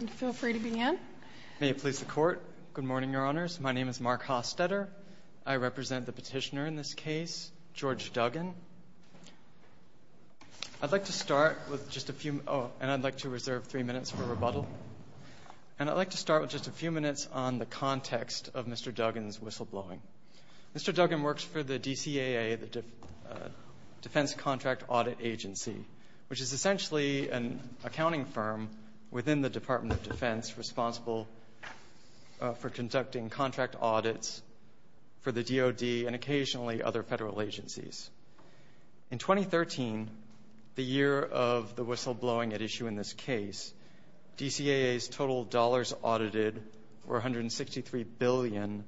And feel free to begin. May it please the Court. Good morning, Your Honors. My name is Mark Hostetter. I represent the petitioner in this case, George Duggan. I'd like to start with just a few minutes on the context of Mr. Duggan's whistleblowing. Mr. Duggan works for the DCAA, the Defense Contract Audit Agency, which is essentially an accounting firm within the Department of Defense responsible for conducting contract audits for the DOD and occasionally other federal agencies. In 2013, the year of the whistleblowing at issue in this case, DCAA's total dollars audited were $163 billion,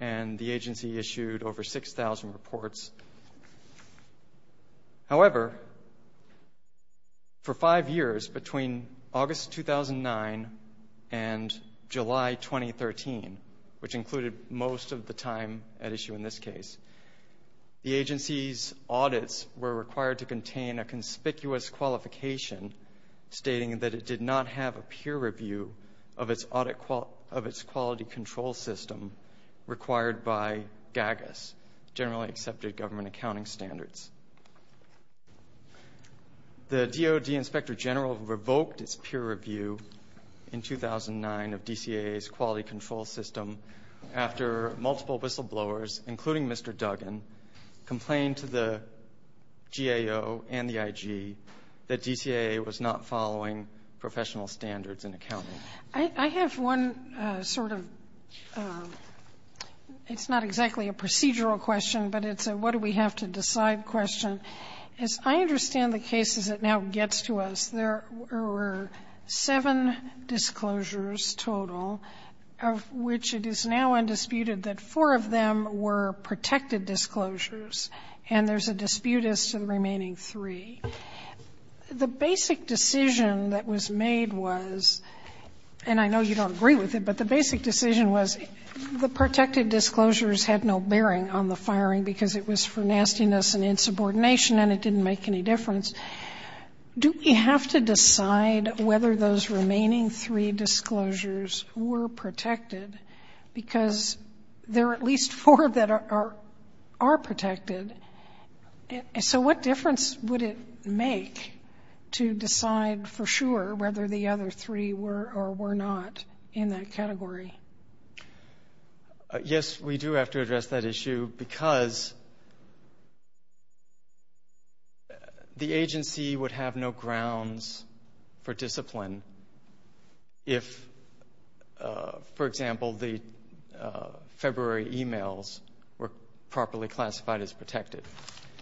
and the agency issued over 6,000 reports. However, for five years between August 2009 and July 2013, which included most of the time at issue in this case, the agency's audits were required to contain a conspicuous qualification stating that it did not have a peer review of its quality control system required by GAGUS, generally accepted government accounting standards. The DOD Inspector General revoked its peer review in 2009 of DCAA's quality control system after multiple whistleblowers, including Mr. Duggan, complained to the GAO and the IG that DCAA was not following professional standards in accounting. Sotomayor, I have one sort of ‑‑ it's not exactly a procedural question, but it's a what do we have to decide question. As I understand the case as it now gets to us, there were seven disclosures total, of which it is now undisputed that four of them were protected disclosures, and there's a dispute as to the remaining three. The basic decision that was made was, and I know you don't agree with it, but the basic decision was the protected disclosures had no bearing on the firing because it was for nastiness and insubordination and it didn't make any difference. Do we have to decide whether those remaining three disclosures were protected because there are at least four that are protected? So what difference would it make to decide for sure whether the other three were or were not in that category? Yes, we do have to address that issue because the agency would have no grounds for discipline if, for example, the February emails were properly classified as protected.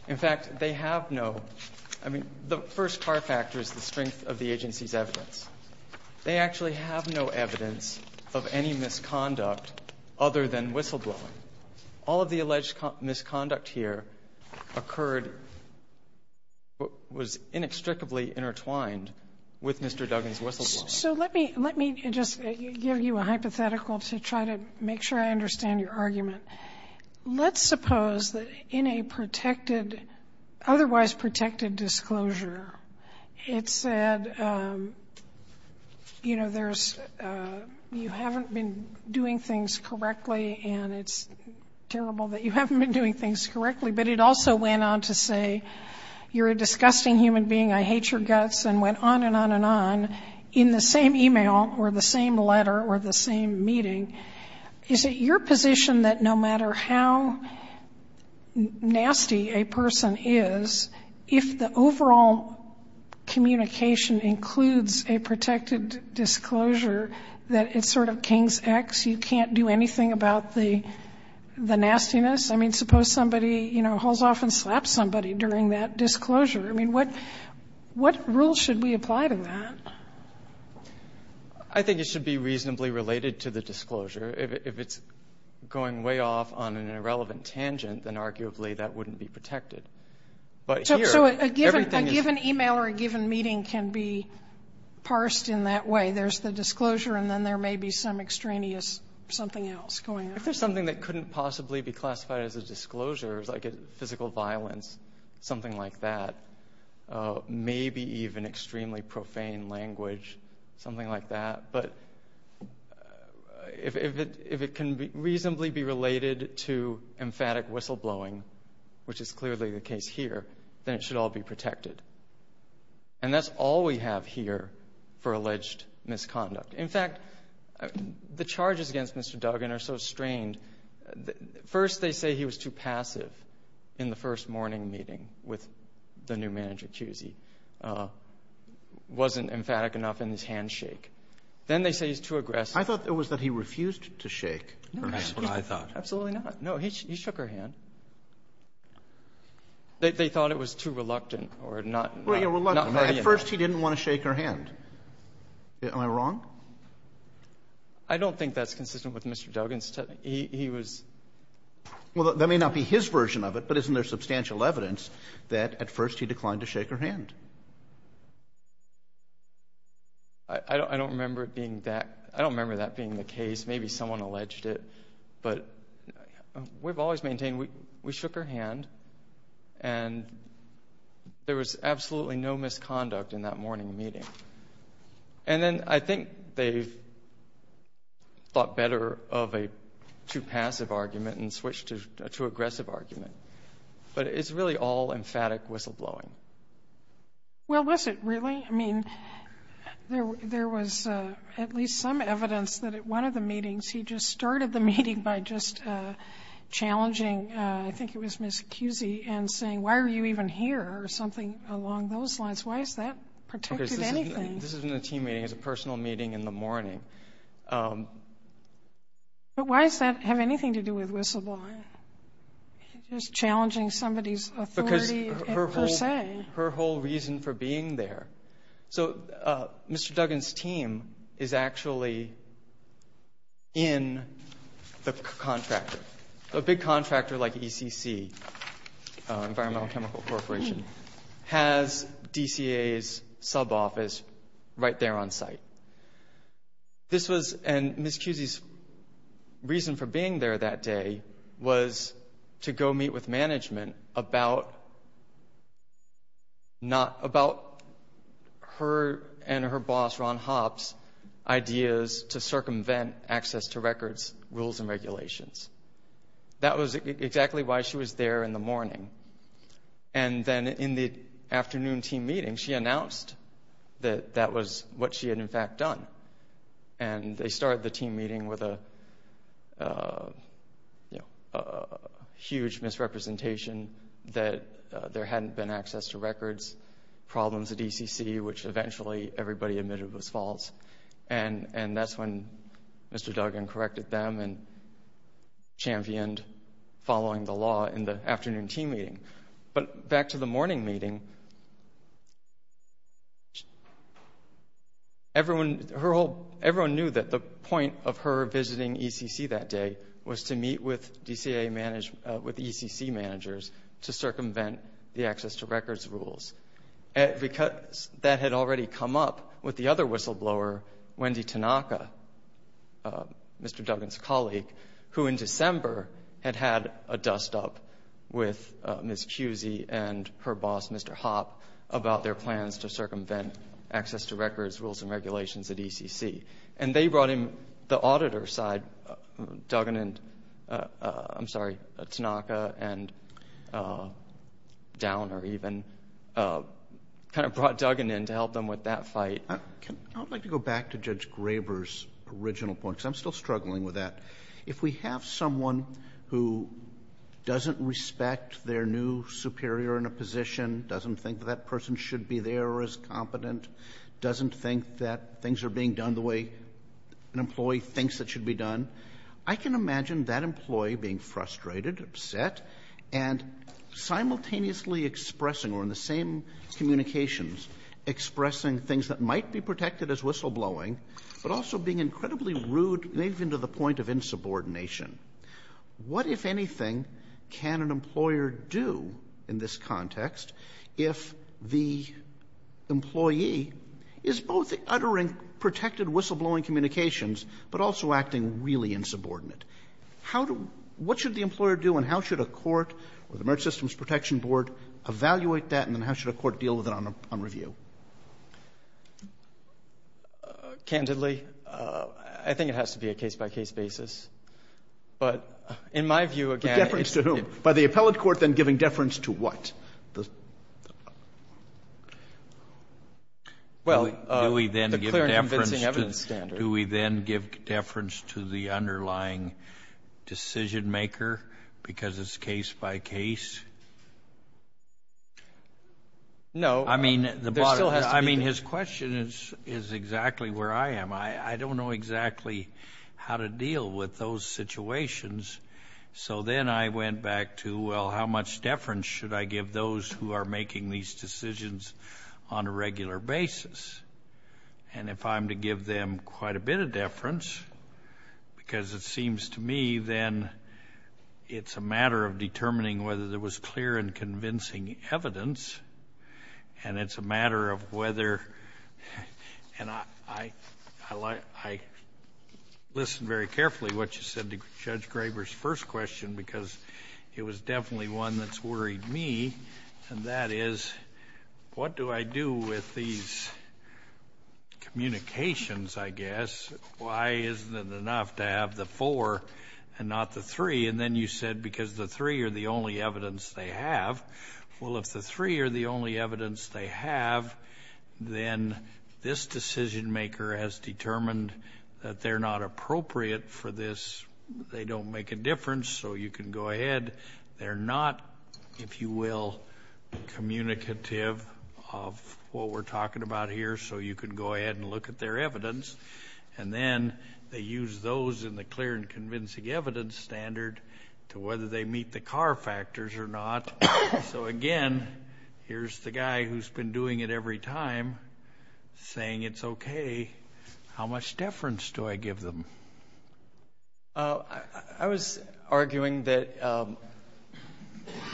In fact, they have no ‑‑ I mean, the first far factor is the strength of the agency's evidence. They actually have no evidence of any misconduct other than whistleblowing. All of the alleged misconduct here occurred, was inextricably intertwined with Mr. Duggan's whistleblowing. So let me ‑‑ let me just give you a hypothetical to try to make sure I understand your argument. Let's suppose that in a protected, otherwise protected disclosure, it said, you know, there's ‑‑ you haven't been doing things correctly and it's terrible that you haven't been doing things correctly, but it also went on to say, you're a disgusting human being, I hate your guts, and went on and on and on in the same email or the same letter or the same meeting. Is it your position that no matter how nasty a person is, if the overall communication includes a protected disclosure, that it's sort of kings X, you can't do anything about the nastiness? I mean, suppose somebody, you know, hauls off and slaps somebody during that disclosure. I mean, what ‑‑ what rules should we apply to that? I think it should be reasonably related to the disclosure. If it's going way off on an irrelevant tangent, then arguably that wouldn't be protected. But here, everything is ‑‑ So a given email or a given meeting can be parsed in that way. There's the disclosure and then there may be some extraneous something else going on. If there's something that couldn't possibly be classified as a disclosure, like physical violence, something like that, maybe even extremely profane language, something like that, but if it can reasonably be related to emphatic whistleblowing, which is clearly the case here, then it should all be protected. And that's all we have here for alleged misconduct. In fact, the charges against Mr. Duggan are so strained. First, they say he was too passive in the first morning meeting with the new manager, Cusey. Wasn't emphatic enough in his handshake. Then they say he's too aggressive. I thought it was that he refused to shake her hand. That's what I thought. Absolutely not. No, he shook her hand. They thought it was too reluctant or not ‑‑ At first, he didn't want to shake her hand. Am I wrong? I don't think that's consistent with Mr. Duggan's testimony. He was ‑‑ Well, that may not be his version of it, but isn't there substantial evidence that at first he declined to shake her hand? I don't remember it being that. I don't remember that being the case. Maybe someone alleged it. But we've always maintained we shook her hand, and there was absolutely no misconduct in that morning meeting. And then I think they thought better of a too passive argument and switched to a too aggressive argument. But it's really all emphatic whistleblowing. Well, was it really? I mean, there was at least some evidence that at one of the meetings he just started the meeting by just challenging, I think it was Ms. Kusey, and saying, why are you even here or something along those lines? Why is that protected anything? This is in a team meeting. It was a personal meeting in the morning. But why does that have anything to do with whistleblowing? He was challenging somebody's authority per se. Because her whole reason for being there. So Mr. Duggan's team is actually in the contractor, a big contractor like ECC, Environmental Chemical Corporation, has DCA's sub-office right there on site. And Ms. Kusey's reason for being there that day was to go meet with management about her and her boss, Ron Hopps, ideas to circumvent access to records, rules, and regulations. That was exactly why she was there in the morning. And then in the afternoon team meeting, she announced that that was what she had in fact done. And they started the team meeting with a huge misrepresentation that there hadn't been access to records problems at ECC, which eventually everybody admitted was false. And that's when Mr. Duggan corrected them and championed following the law in the afternoon team meeting. But back to the morning meeting, everyone knew that the point of her visiting ECC that day was to meet with ECC managers to circumvent the access to records rules. That had already come up with the other whistleblower, Wendy Tanaka, Mr. Duggan's colleague, who in December had had a dust-up with Ms. Cusie and her boss, Mr. Hopp, about their plans to circumvent access to records, rules, and regulations at ECC. And they brought in the auditor side, Duggan and, I'm sorry, Tanaka and Downer even kind of brought Duggan in to help them with that fight. I would like to go back to Judge Graber's original point because I'm still struggling with that. If we have someone who doesn't respect their new superior in a position, doesn't think that that person should be there or is competent, doesn't think that things are being done the way an employee thinks it should be done, I can imagine that employee being frustrated, upset, and simultaneously expressing or in the same communications expressing things that might be protected as whistleblowing, but also being incredibly rude and even to the point of insubordination. What, if anything, can an employer do in this context if the employee is both uttering protected whistleblowing communications but also acting really insubordinate? How do — what should the employer do and how should a court or the Merit Systems Protection Board evaluate that and then how should a court deal with it on review? Candidly, I think it has to be a case-by-case basis. But in my view, again — Deference to whom? By the appellate court then giving deference to what? Well, the clear and convincing evidence standard. Do we then give deference to the underlying decision-maker because it's case-by-case? No. I mean, his question is exactly where I am. I don't know exactly how to deal with those situations. So then I went back to, well, how much deference should I give those who are making these decisions on a regular basis? And if I'm to give them quite a bit of deference because it seems to me then it's a matter of determining whether there was clear and convincing evidence and it's a matter of whether — and I listened very carefully to what you said to Judge Graber's first question because it was definitely one that's worried me, and that is what do I do with these communications, I guess? Why isn't it enough to have the four and not the three? And then you said because the three are the only evidence they have. Well, if the three are the only evidence they have, then this decision-maker has determined that they're not appropriate for this. They don't make a difference, so you can go ahead. They're not, if you will, communicative of what we're talking about here, so you can go ahead and look at their evidence. And then they use those in the clear and convincing evidence standard to whether they meet the car factors or not. So, again, here's the guy who's been doing it every time saying it's okay. How much deference do I give them? I was arguing that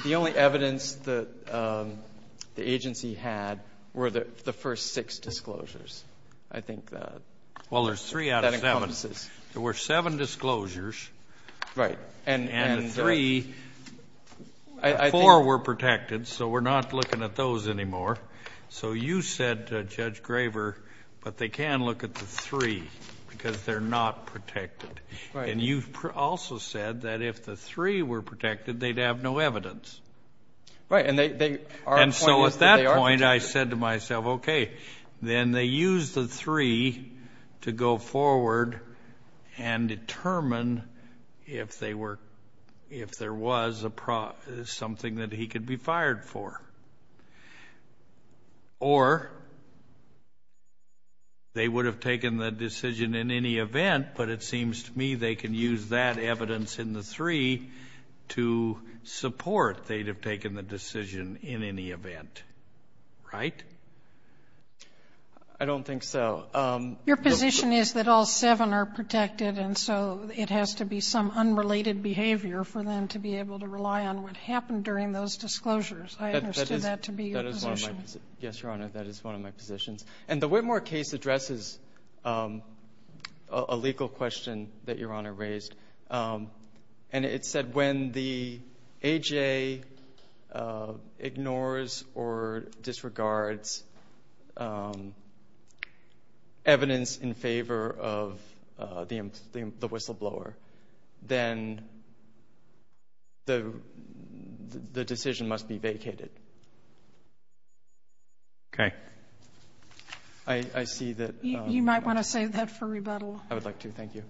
the only evidence that the agency had were the first six disclosures. I think that encompasses. Well, there's three out of seven. There were seven disclosures. Right. And the three, four were protected, so we're not looking at those anymore. So you said to Judge Graver, but they can look at the three because they're not protected. And you also said that if the three were protected, they'd have no evidence. Right. And so at that point I said to myself, okay, then they use the three to go forward and determine if there was something that he could be fired for. Or they would have taken the decision in any event, but it seems to me they can use that evidence in the three to support they'd have taken the decision in any event. Right? I don't think so. Your position is that all seven are protected, and so it has to be some unrelated behavior for them to be able to rely on what happened during those disclosures. I understood that to be your position. Yes, Your Honor, that is one of my positions. And the Whitmore case addresses a legal question that Your Honor raised, and it said when the AJA ignores or disregards evidence in favor of the whistleblower, then the decision must be vacated. Okay. I see that. You might want to save that for rebuttal. I would like to. Thank you.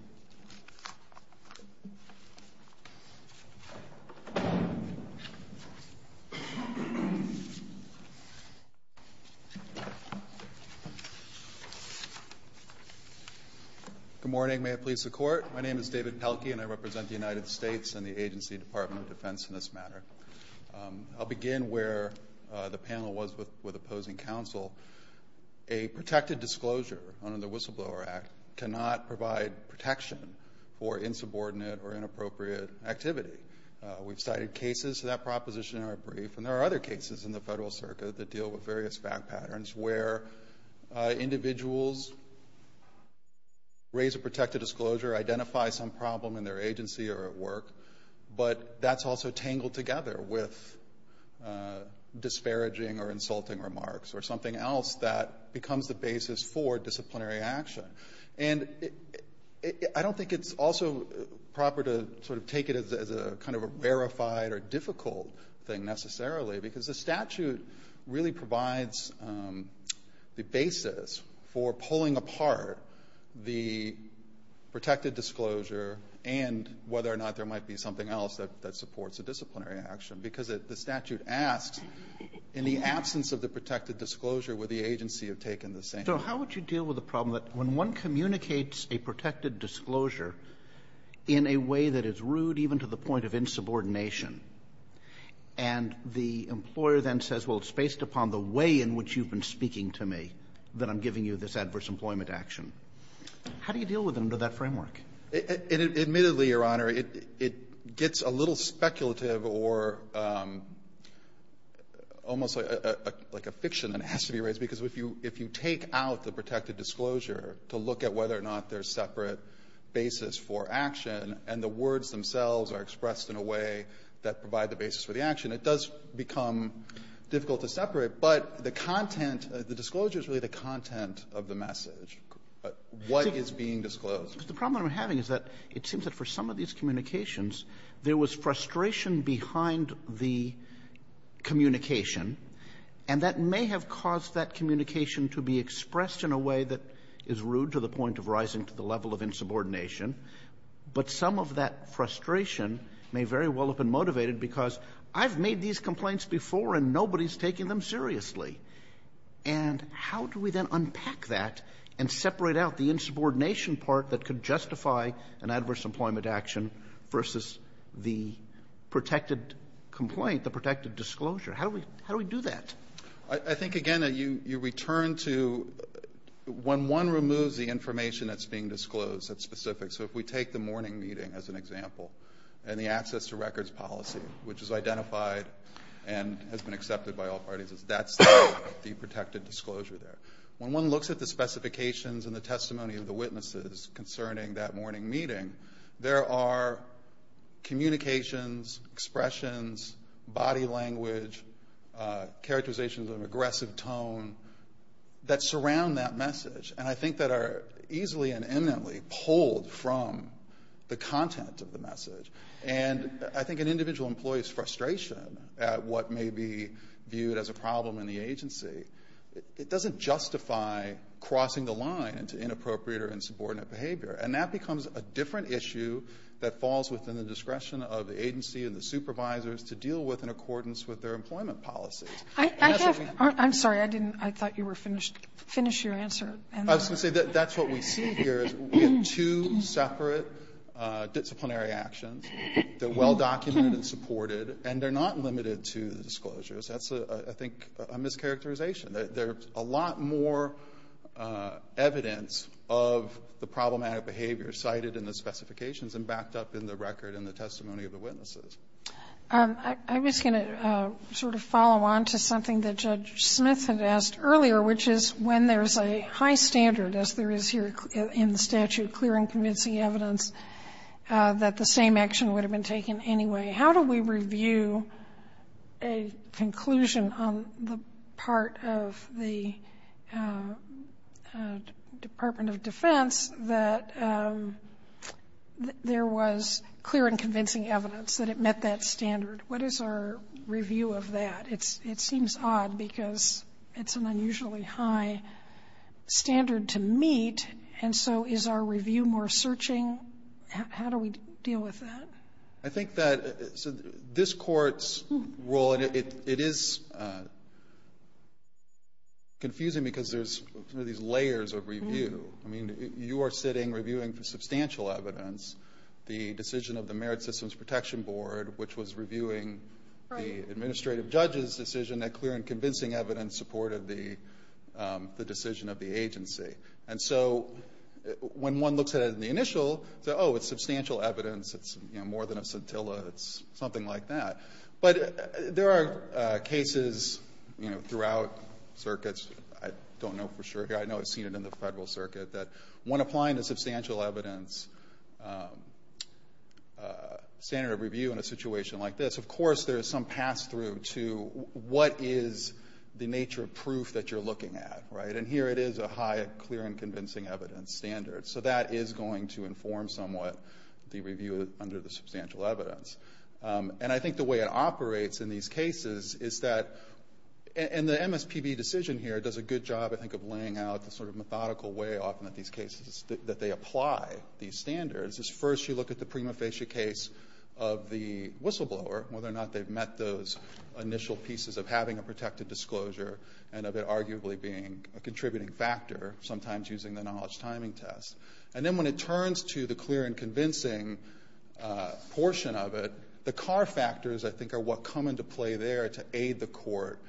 Good morning. May it please the Court. My name is David Pelkey, and I represent the United States and the Agency Department of Defense in this matter. I'll begin where the panel was with opposing counsel. A protected disclosure under the Whistleblower Act cannot provide protection for insubordinate or inappropriate activity. We've cited cases of that proposition in our brief, and there are other cases in the federal circuit that deal with various fact patterns where individuals raise a protected disclosure, identify some problem in their agency or at work, but that's also tangled together with disparaging or insulting remarks or something else that becomes the basis for disciplinary action. And I don't think it's also proper to sort of take it as a kind of a verified or difficult thing necessarily, because the statute really provides the basis for pulling apart the protected disclosure and whether or not there might be something else that supports a disciplinary action. Because the statute asks, in the absence of the protected disclosure, would the agency have taken the same? So how would you deal with the problem that when one communicates a protected disclosure in a way that is rude even to the point of insubordination, and the employer then says, well, it's based upon the way in which you've been speaking to me that I'm giving you this adverse employment action? How do you deal with them under that framework? And admittedly, Your Honor, it gets a little speculative or almost like a fiction that has to be raised, because if you take out the protected disclosure to look at whether or not there's separate basis for action and the words themselves are expressed in a way that provide the basis for the action, it does become difficult to separate. But the content, the disclosure is really the content of the message. What is being disclosed? Verrilli, The problem I'm having is that it seems that for some of these communications, there was frustration behind the communication, and that may have caused that communication to be expressed in a way that is rude to the point of rising to the level of insubordination. But some of that frustration may very well have been motivated because I've made these And how do we then unpack that and separate out the insubordination part that could justify an adverse employment action versus the protected complaint, the protected disclosure? How do we do that? I think, again, you return to when one removes the information that's being disclosed that's specific. So if we take the morning meeting as an example and the access to records policy, which is identified and has been accepted by all parties, that's the protected disclosure there. When one looks at the specifications and the testimony of the witnesses concerning that morning meeting, there are communications, expressions, body language, characterizations of an aggressive tone that surround that message and I think that are easily and eminently pulled from the content of the message. And I think an individual employee's frustration at what may be viewed as a problem in the agency, it doesn't justify crossing the line into inappropriate or insubordinate behavior. And that becomes a different issue that falls within the discretion of the agency and the supervisors to deal with in accordance with their employment policies. I have, I'm sorry, I didn't, I thought you were finished, finish your answer. I was going to say that's what we see here is we have two separate disciplinary actions. They're well documented and supported and they're not limited to the disclosures. That's, I think, a mischaracterization. There's a lot more evidence of the problematic behavior cited in the specifications and backed up in the record and the testimony of the witnesses. I'm just going to sort of follow on to something that Judge Smith had asked earlier, which is when there's a high standard, as there is here in the statute, clear and convincing evidence, that the same action would have been taken anyway. How do we review a conclusion on the part of the Department of Defense that there was clear and convincing evidence that it met that standard? What is our review of that? It seems odd because it's an unusually high standard to meet, and so is our review more searching? How do we deal with that? I think that this Court's role, and it is confusing because there's these layers of review. I mean, you are sitting reviewing substantial evidence. The decision of the Merit Systems Protection Board, which was reviewing the administrative judge's decision, that clear and convincing evidence supported the decision of the agency. And so when one looks at it in the initial, oh, it's substantial evidence, it's more than a scintilla, it's something like that. But there are cases throughout circuits, I don't know for sure here, I know I've seen it in the Federal Circuit, that when applying a substantial evidence standard of review in a situation like this, of course there is some pass-through to what is the nature of proof that you're looking at, right? And here it is a high clear and convincing evidence standard. So that is going to inform somewhat the review under the substantial evidence. And I think the way it operates in these cases is that, and the MSPB decision here does a good job, I think, of laying out the sort of methodical way often that these cases, that they apply these standards, is first you look at the prima facie case of the whistleblower, whether or not they've met those initial pieces of having a protected disclosure and of it arguably being a contributing factor, sometimes using the knowledge timing test. And then when it turns to the clear and convincing portion of it, the car factors, I think, are what come into play there to aid the court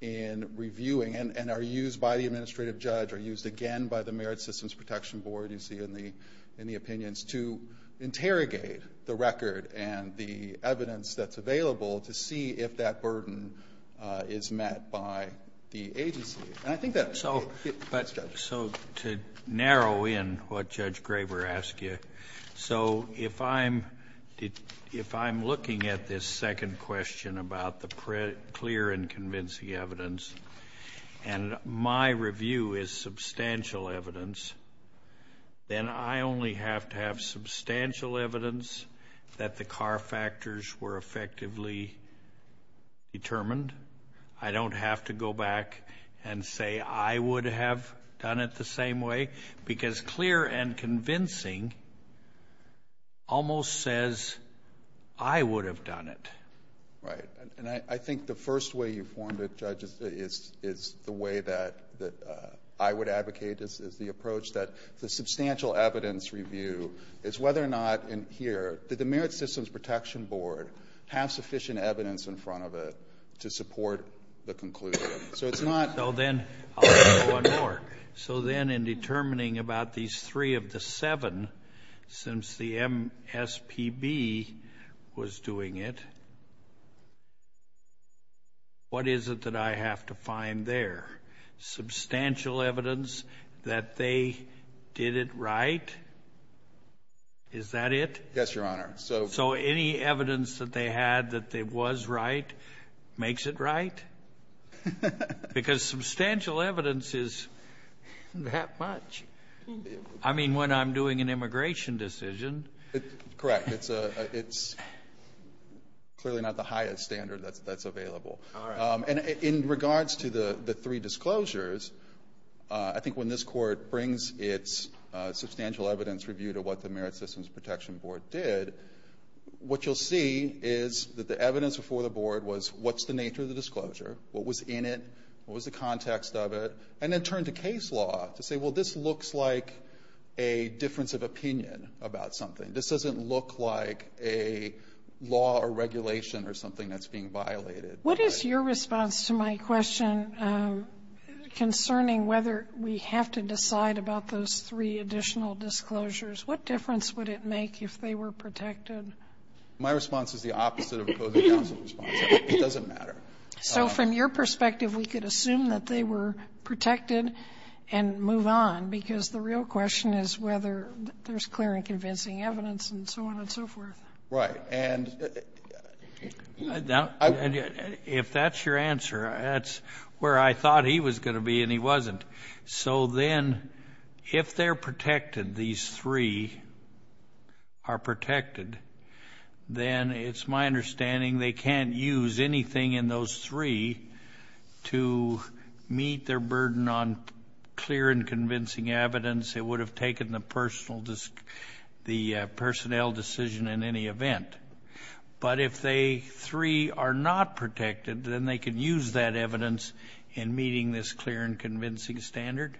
in reviewing and are used by the administrative judge, are used again by the Merit Systems Protection Board, you see in the opinions, to interrogate the record and the evidence that's available to see if that burden is met by the agency. And I think that... So to narrow in what Judge Graber asked you, so if I'm looking at this second question about the clear and convincing evidence and my review is substantial evidence, then I only have to have substantial evidence that the car factors were effectively determined. I don't have to go back and say I would have done it the same way, because clear and convincing almost says I would have done it. Right. And I think the first way you formed it, Judge, is the way that I would advocate is the approach that the substantial evidence review is whether or not in here, did the Merit Systems Protection Board have sufficient evidence in front of it to support the conclusion? So it's not... Well, then, I'll say one more. So then in determining about these three of the seven, since the MSPB was doing it, what is it that I have to find there? Substantial evidence that they did it right? Is that it? Yes, Your Honor. So any evidence that they had that it was right makes it right? Because substantial evidence is that much. I mean, when I'm doing an immigration decision. Correct. It's clearly not the highest standard that's available. And in regards to the three disclosures, I think when this Court brings its substantial evidence review to what the Merit Systems Protection Board did, what you'll see is that the evidence before the Board was what's the nature of the disclosure, what was in it, what was the context of it, and then turn to case law to say, well, this looks like a difference of opinion about something. This doesn't look like a law or regulation or something that's being violated. What is your response to my question concerning whether we have to decide about those three additional disclosures? What difference would it make if they were protected? My response is the opposite of the opposing counsel's response. It doesn't matter. So from your perspective, we could assume that they were protected and move on, because the real question is whether there's clear and convincing evidence and so on and so forth. Right. And if that's your answer, that's where I thought he was going to be and he wasn't. So then if they're protected, these three are protected, then it's my understanding they can't use anything in those three to meet their burden on clear and convincing evidence. It would have taken the personnel decision in any event. But if they three are not protected, then they can use that evidence in meeting this clear and convincing standard?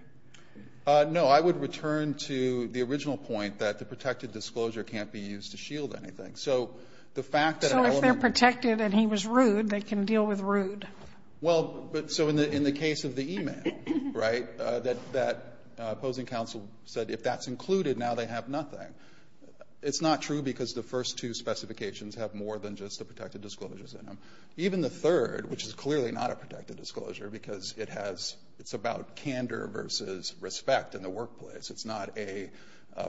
No. I would return to the original point that the protected disclosure can't be used to shield anything. So the fact that an element of it can't be used to shield anything. So if they're protected and he was rude, they can deal with rude. Well, so in the case of the e-mail, right, that opposing counsel said if that's included, now they have nothing. It's not true because the first two specifications have more than just the protected disclosures in them. Even the third, which is clearly not a protected disclosure because it's about candor versus respect in the workplace. It's not a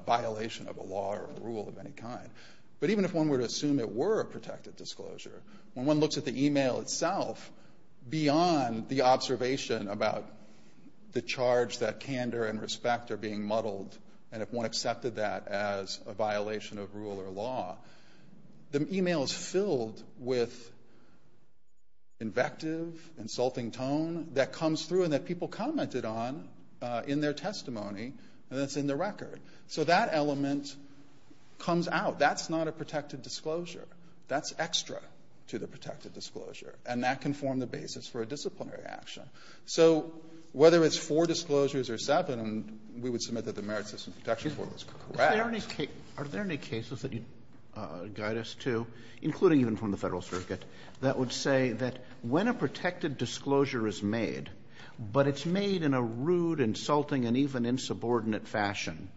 violation of a law or a rule of any kind. But even if one were to assume it were a protected disclosure, when one looks at the e-mail itself, beyond the observation about the charge that candor and respect are being muddled and if one accepted that as a violation of rule or law, the e-mail is filled with invective, insulting tone that comes through and that people commented on in their testimony and that's in the record. So that element comes out. That's not a protected disclosure. That's extra to the protected disclosure, and that can form the basis for a disciplinary action. So whether it's four disclosures or seven, we would submit that the Merit System Protection Board was correct. Are there any cases that you'd guide us to, including even from the Federal Circuit, that would say that when a protected disclosure is made, but it's made in a rude, insulting, and even insubordinate fashion,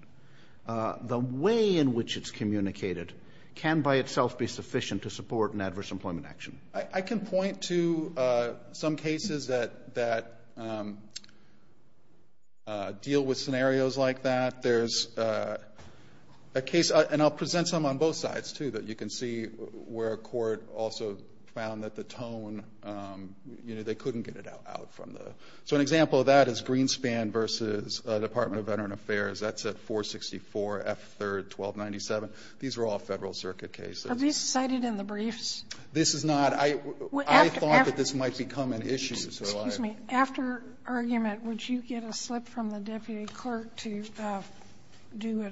the way in which it's communicated can by itself be sufficient to support an adverse employment action? I can point to some cases that deal with scenarios like that. There's a case, and I'll present some on both sides, too, that you can see where a court also found that the tone, you know, they couldn't get it out from the. So an example of that is Greenspan v. Department of Veteran Affairs. That's at 464 F. 3rd, 1297. These are all Federal Circuit cases. Are these cited in the briefs? This is not. I thought that this might become an issue. Excuse me. After argument, would you get a slip from the deputy clerk to do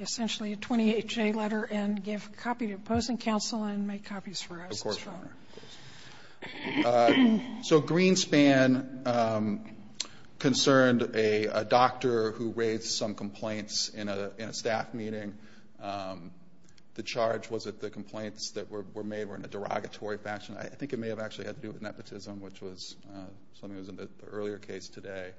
essentially a 28-J letter and give a copy to opposing counsel and make copies for us? Of course, Your Honor. So Greenspan concerned a doctor who raised some complaints in a staff meeting. The charge was that the complaints that were made were in a derogatory fashion. I think it may have actually had to do with nepotism, which was something that was in the earlier case today.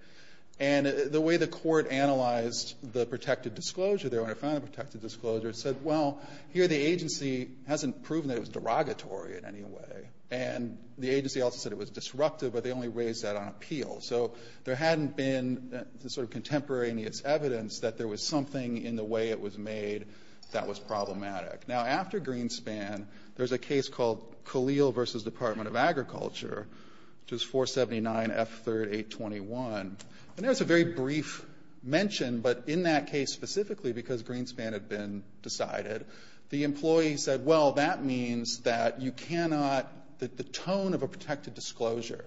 And the way the court analyzed the protected disclosure there, when it found the protected disclosure, said, well, here the agency hasn't proven that it was derogatory in any way. And the agency also said it was disruptive, but they only raised that on appeal. So there hadn't been the sort of contemporaneous evidence that there was something in the way it was made that was problematic. Now, after Greenspan, there's a case called Khalil v. Department of Agriculture, which is 479F3-821. And there's a very brief mention, but in that case specifically, because Greenspan had been decided, the employee said, well, that means that you cannot, that the tone of a protected disclosure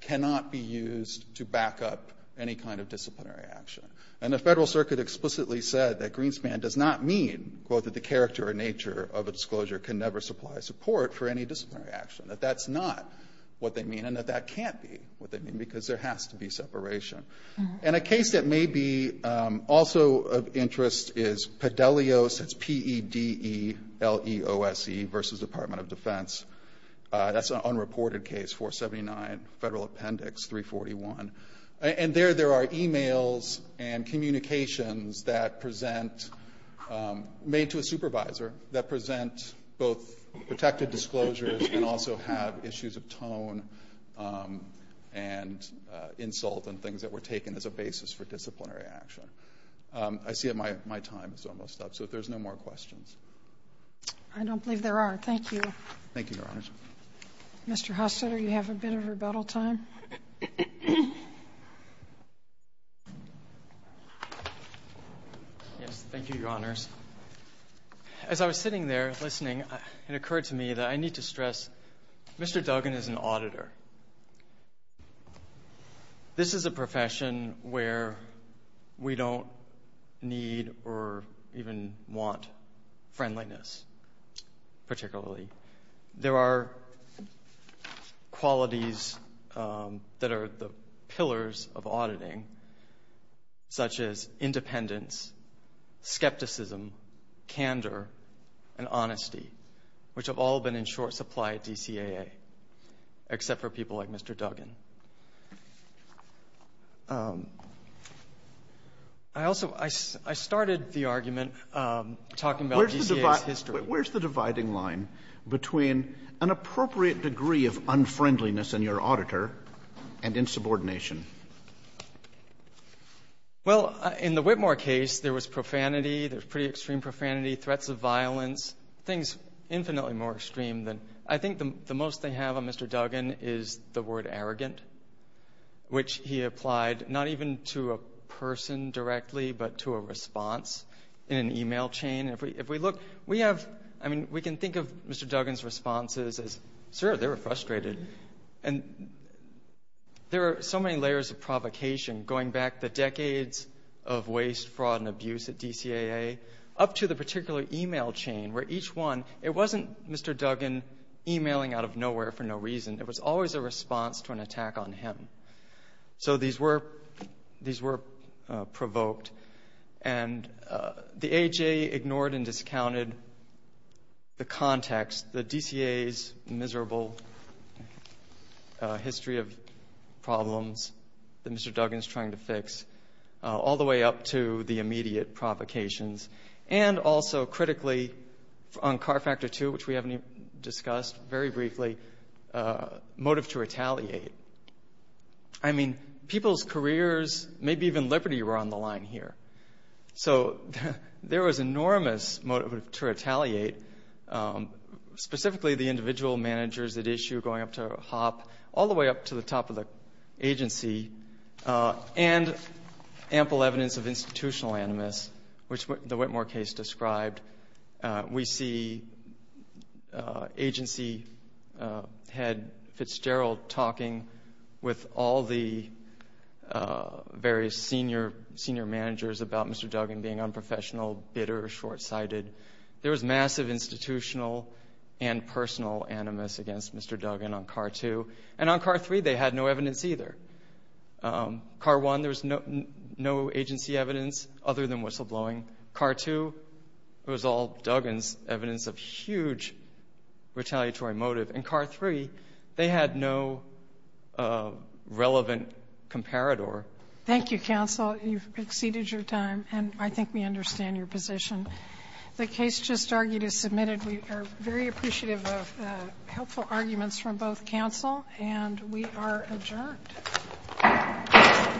cannot be used to back up any kind of disciplinary action. And the Federal Circuit explicitly said that Greenspan does not mean, quote, that the character or nature of a disclosure can never supply support for any disciplinary action, that that's not what they mean, and that that can't be what they mean, because there has to be separation. And a case that may be also of interest is Pedellios, that's P-E-D-E-L-E-O-S-E v. Department of Defense. That's an unreported case, 479 Federal Appendix 341. And there, there are e-mails and communications that present, made to a supervisor, that present both protected disclosures and also have issues of tone and insult and things that were taken as a basis for disciplinary action. I see that my time is almost up, so if there's no more questions. I don't believe there are. Thank you. Thank you, Your Honors. Mr. Hostetter, you have a bit of rebuttal time. Yes. Thank you, Your Honors. As I was sitting there listening, it occurred to me that I need to stress Mr. Duggan is an auditor. This is a profession where we don't need or even want friendliness, particularly. There are qualities that are the pillars of auditing, such as independence, skepticism, candor, and honesty, which have all been in short supply at DCAA, except for people like Mr. Duggan. I also, I started the argument talking about DCAA's history. Where's the dividing line between an appropriate degree of unfriendliness in your auditor and insubordination? Well, in the Whitmore case, there was profanity. There was pretty extreme profanity, threats of violence, things infinitely more extreme than that. I think the most they have on Mr. Duggan is the word arrogant, which he applied not even to a person directly, but to a response in an e-mail chain. If we look, we have, I mean, we can think of Mr. Duggan's responses as, sir, they were frustrated. And there are so many layers of provocation, going back the decades of waste, fraud, and abuse at DCAA, up to the particular e-mail chain, where each one, it wasn't Mr. Duggan e-mailing out of nowhere for no reason. It was always a response to an attack on him. So these were provoked. And the AHA ignored and discounted the context, the DCAA's miserable history of problems that Mr. Duggan is trying to fix, all the way up to the immediate provocations. And also, critically, on CAR Factor II, which we haven't even discussed, very briefly, motive to retaliate. I mean, people's careers, maybe even liberty, were on the line here. So there was enormous motive to retaliate, specifically the individual managers at issue going up to HOP, all the way up to the top of the agency, and ample evidence of institutional animus, which the Whitmore case described. We see agency head Fitzgerald talking with all the various senior managers about Mr. Duggan being unprofessional, bitter, short-sighted. There was massive institutional and personal animus against Mr. Duggan on CAR II. And on CAR III, they had no evidence either. CAR I, there was no agency evidence other than whistleblowing. CAR II, it was all Duggan's evidence of huge retaliatory motive. And CAR III, they had no relevant comparador. Thank you, counsel. You've exceeded your time, and I think we understand your position. The case just argued is submitted. We are very appreciative of helpful arguments from both counsel, and we are adjourned. Thank you.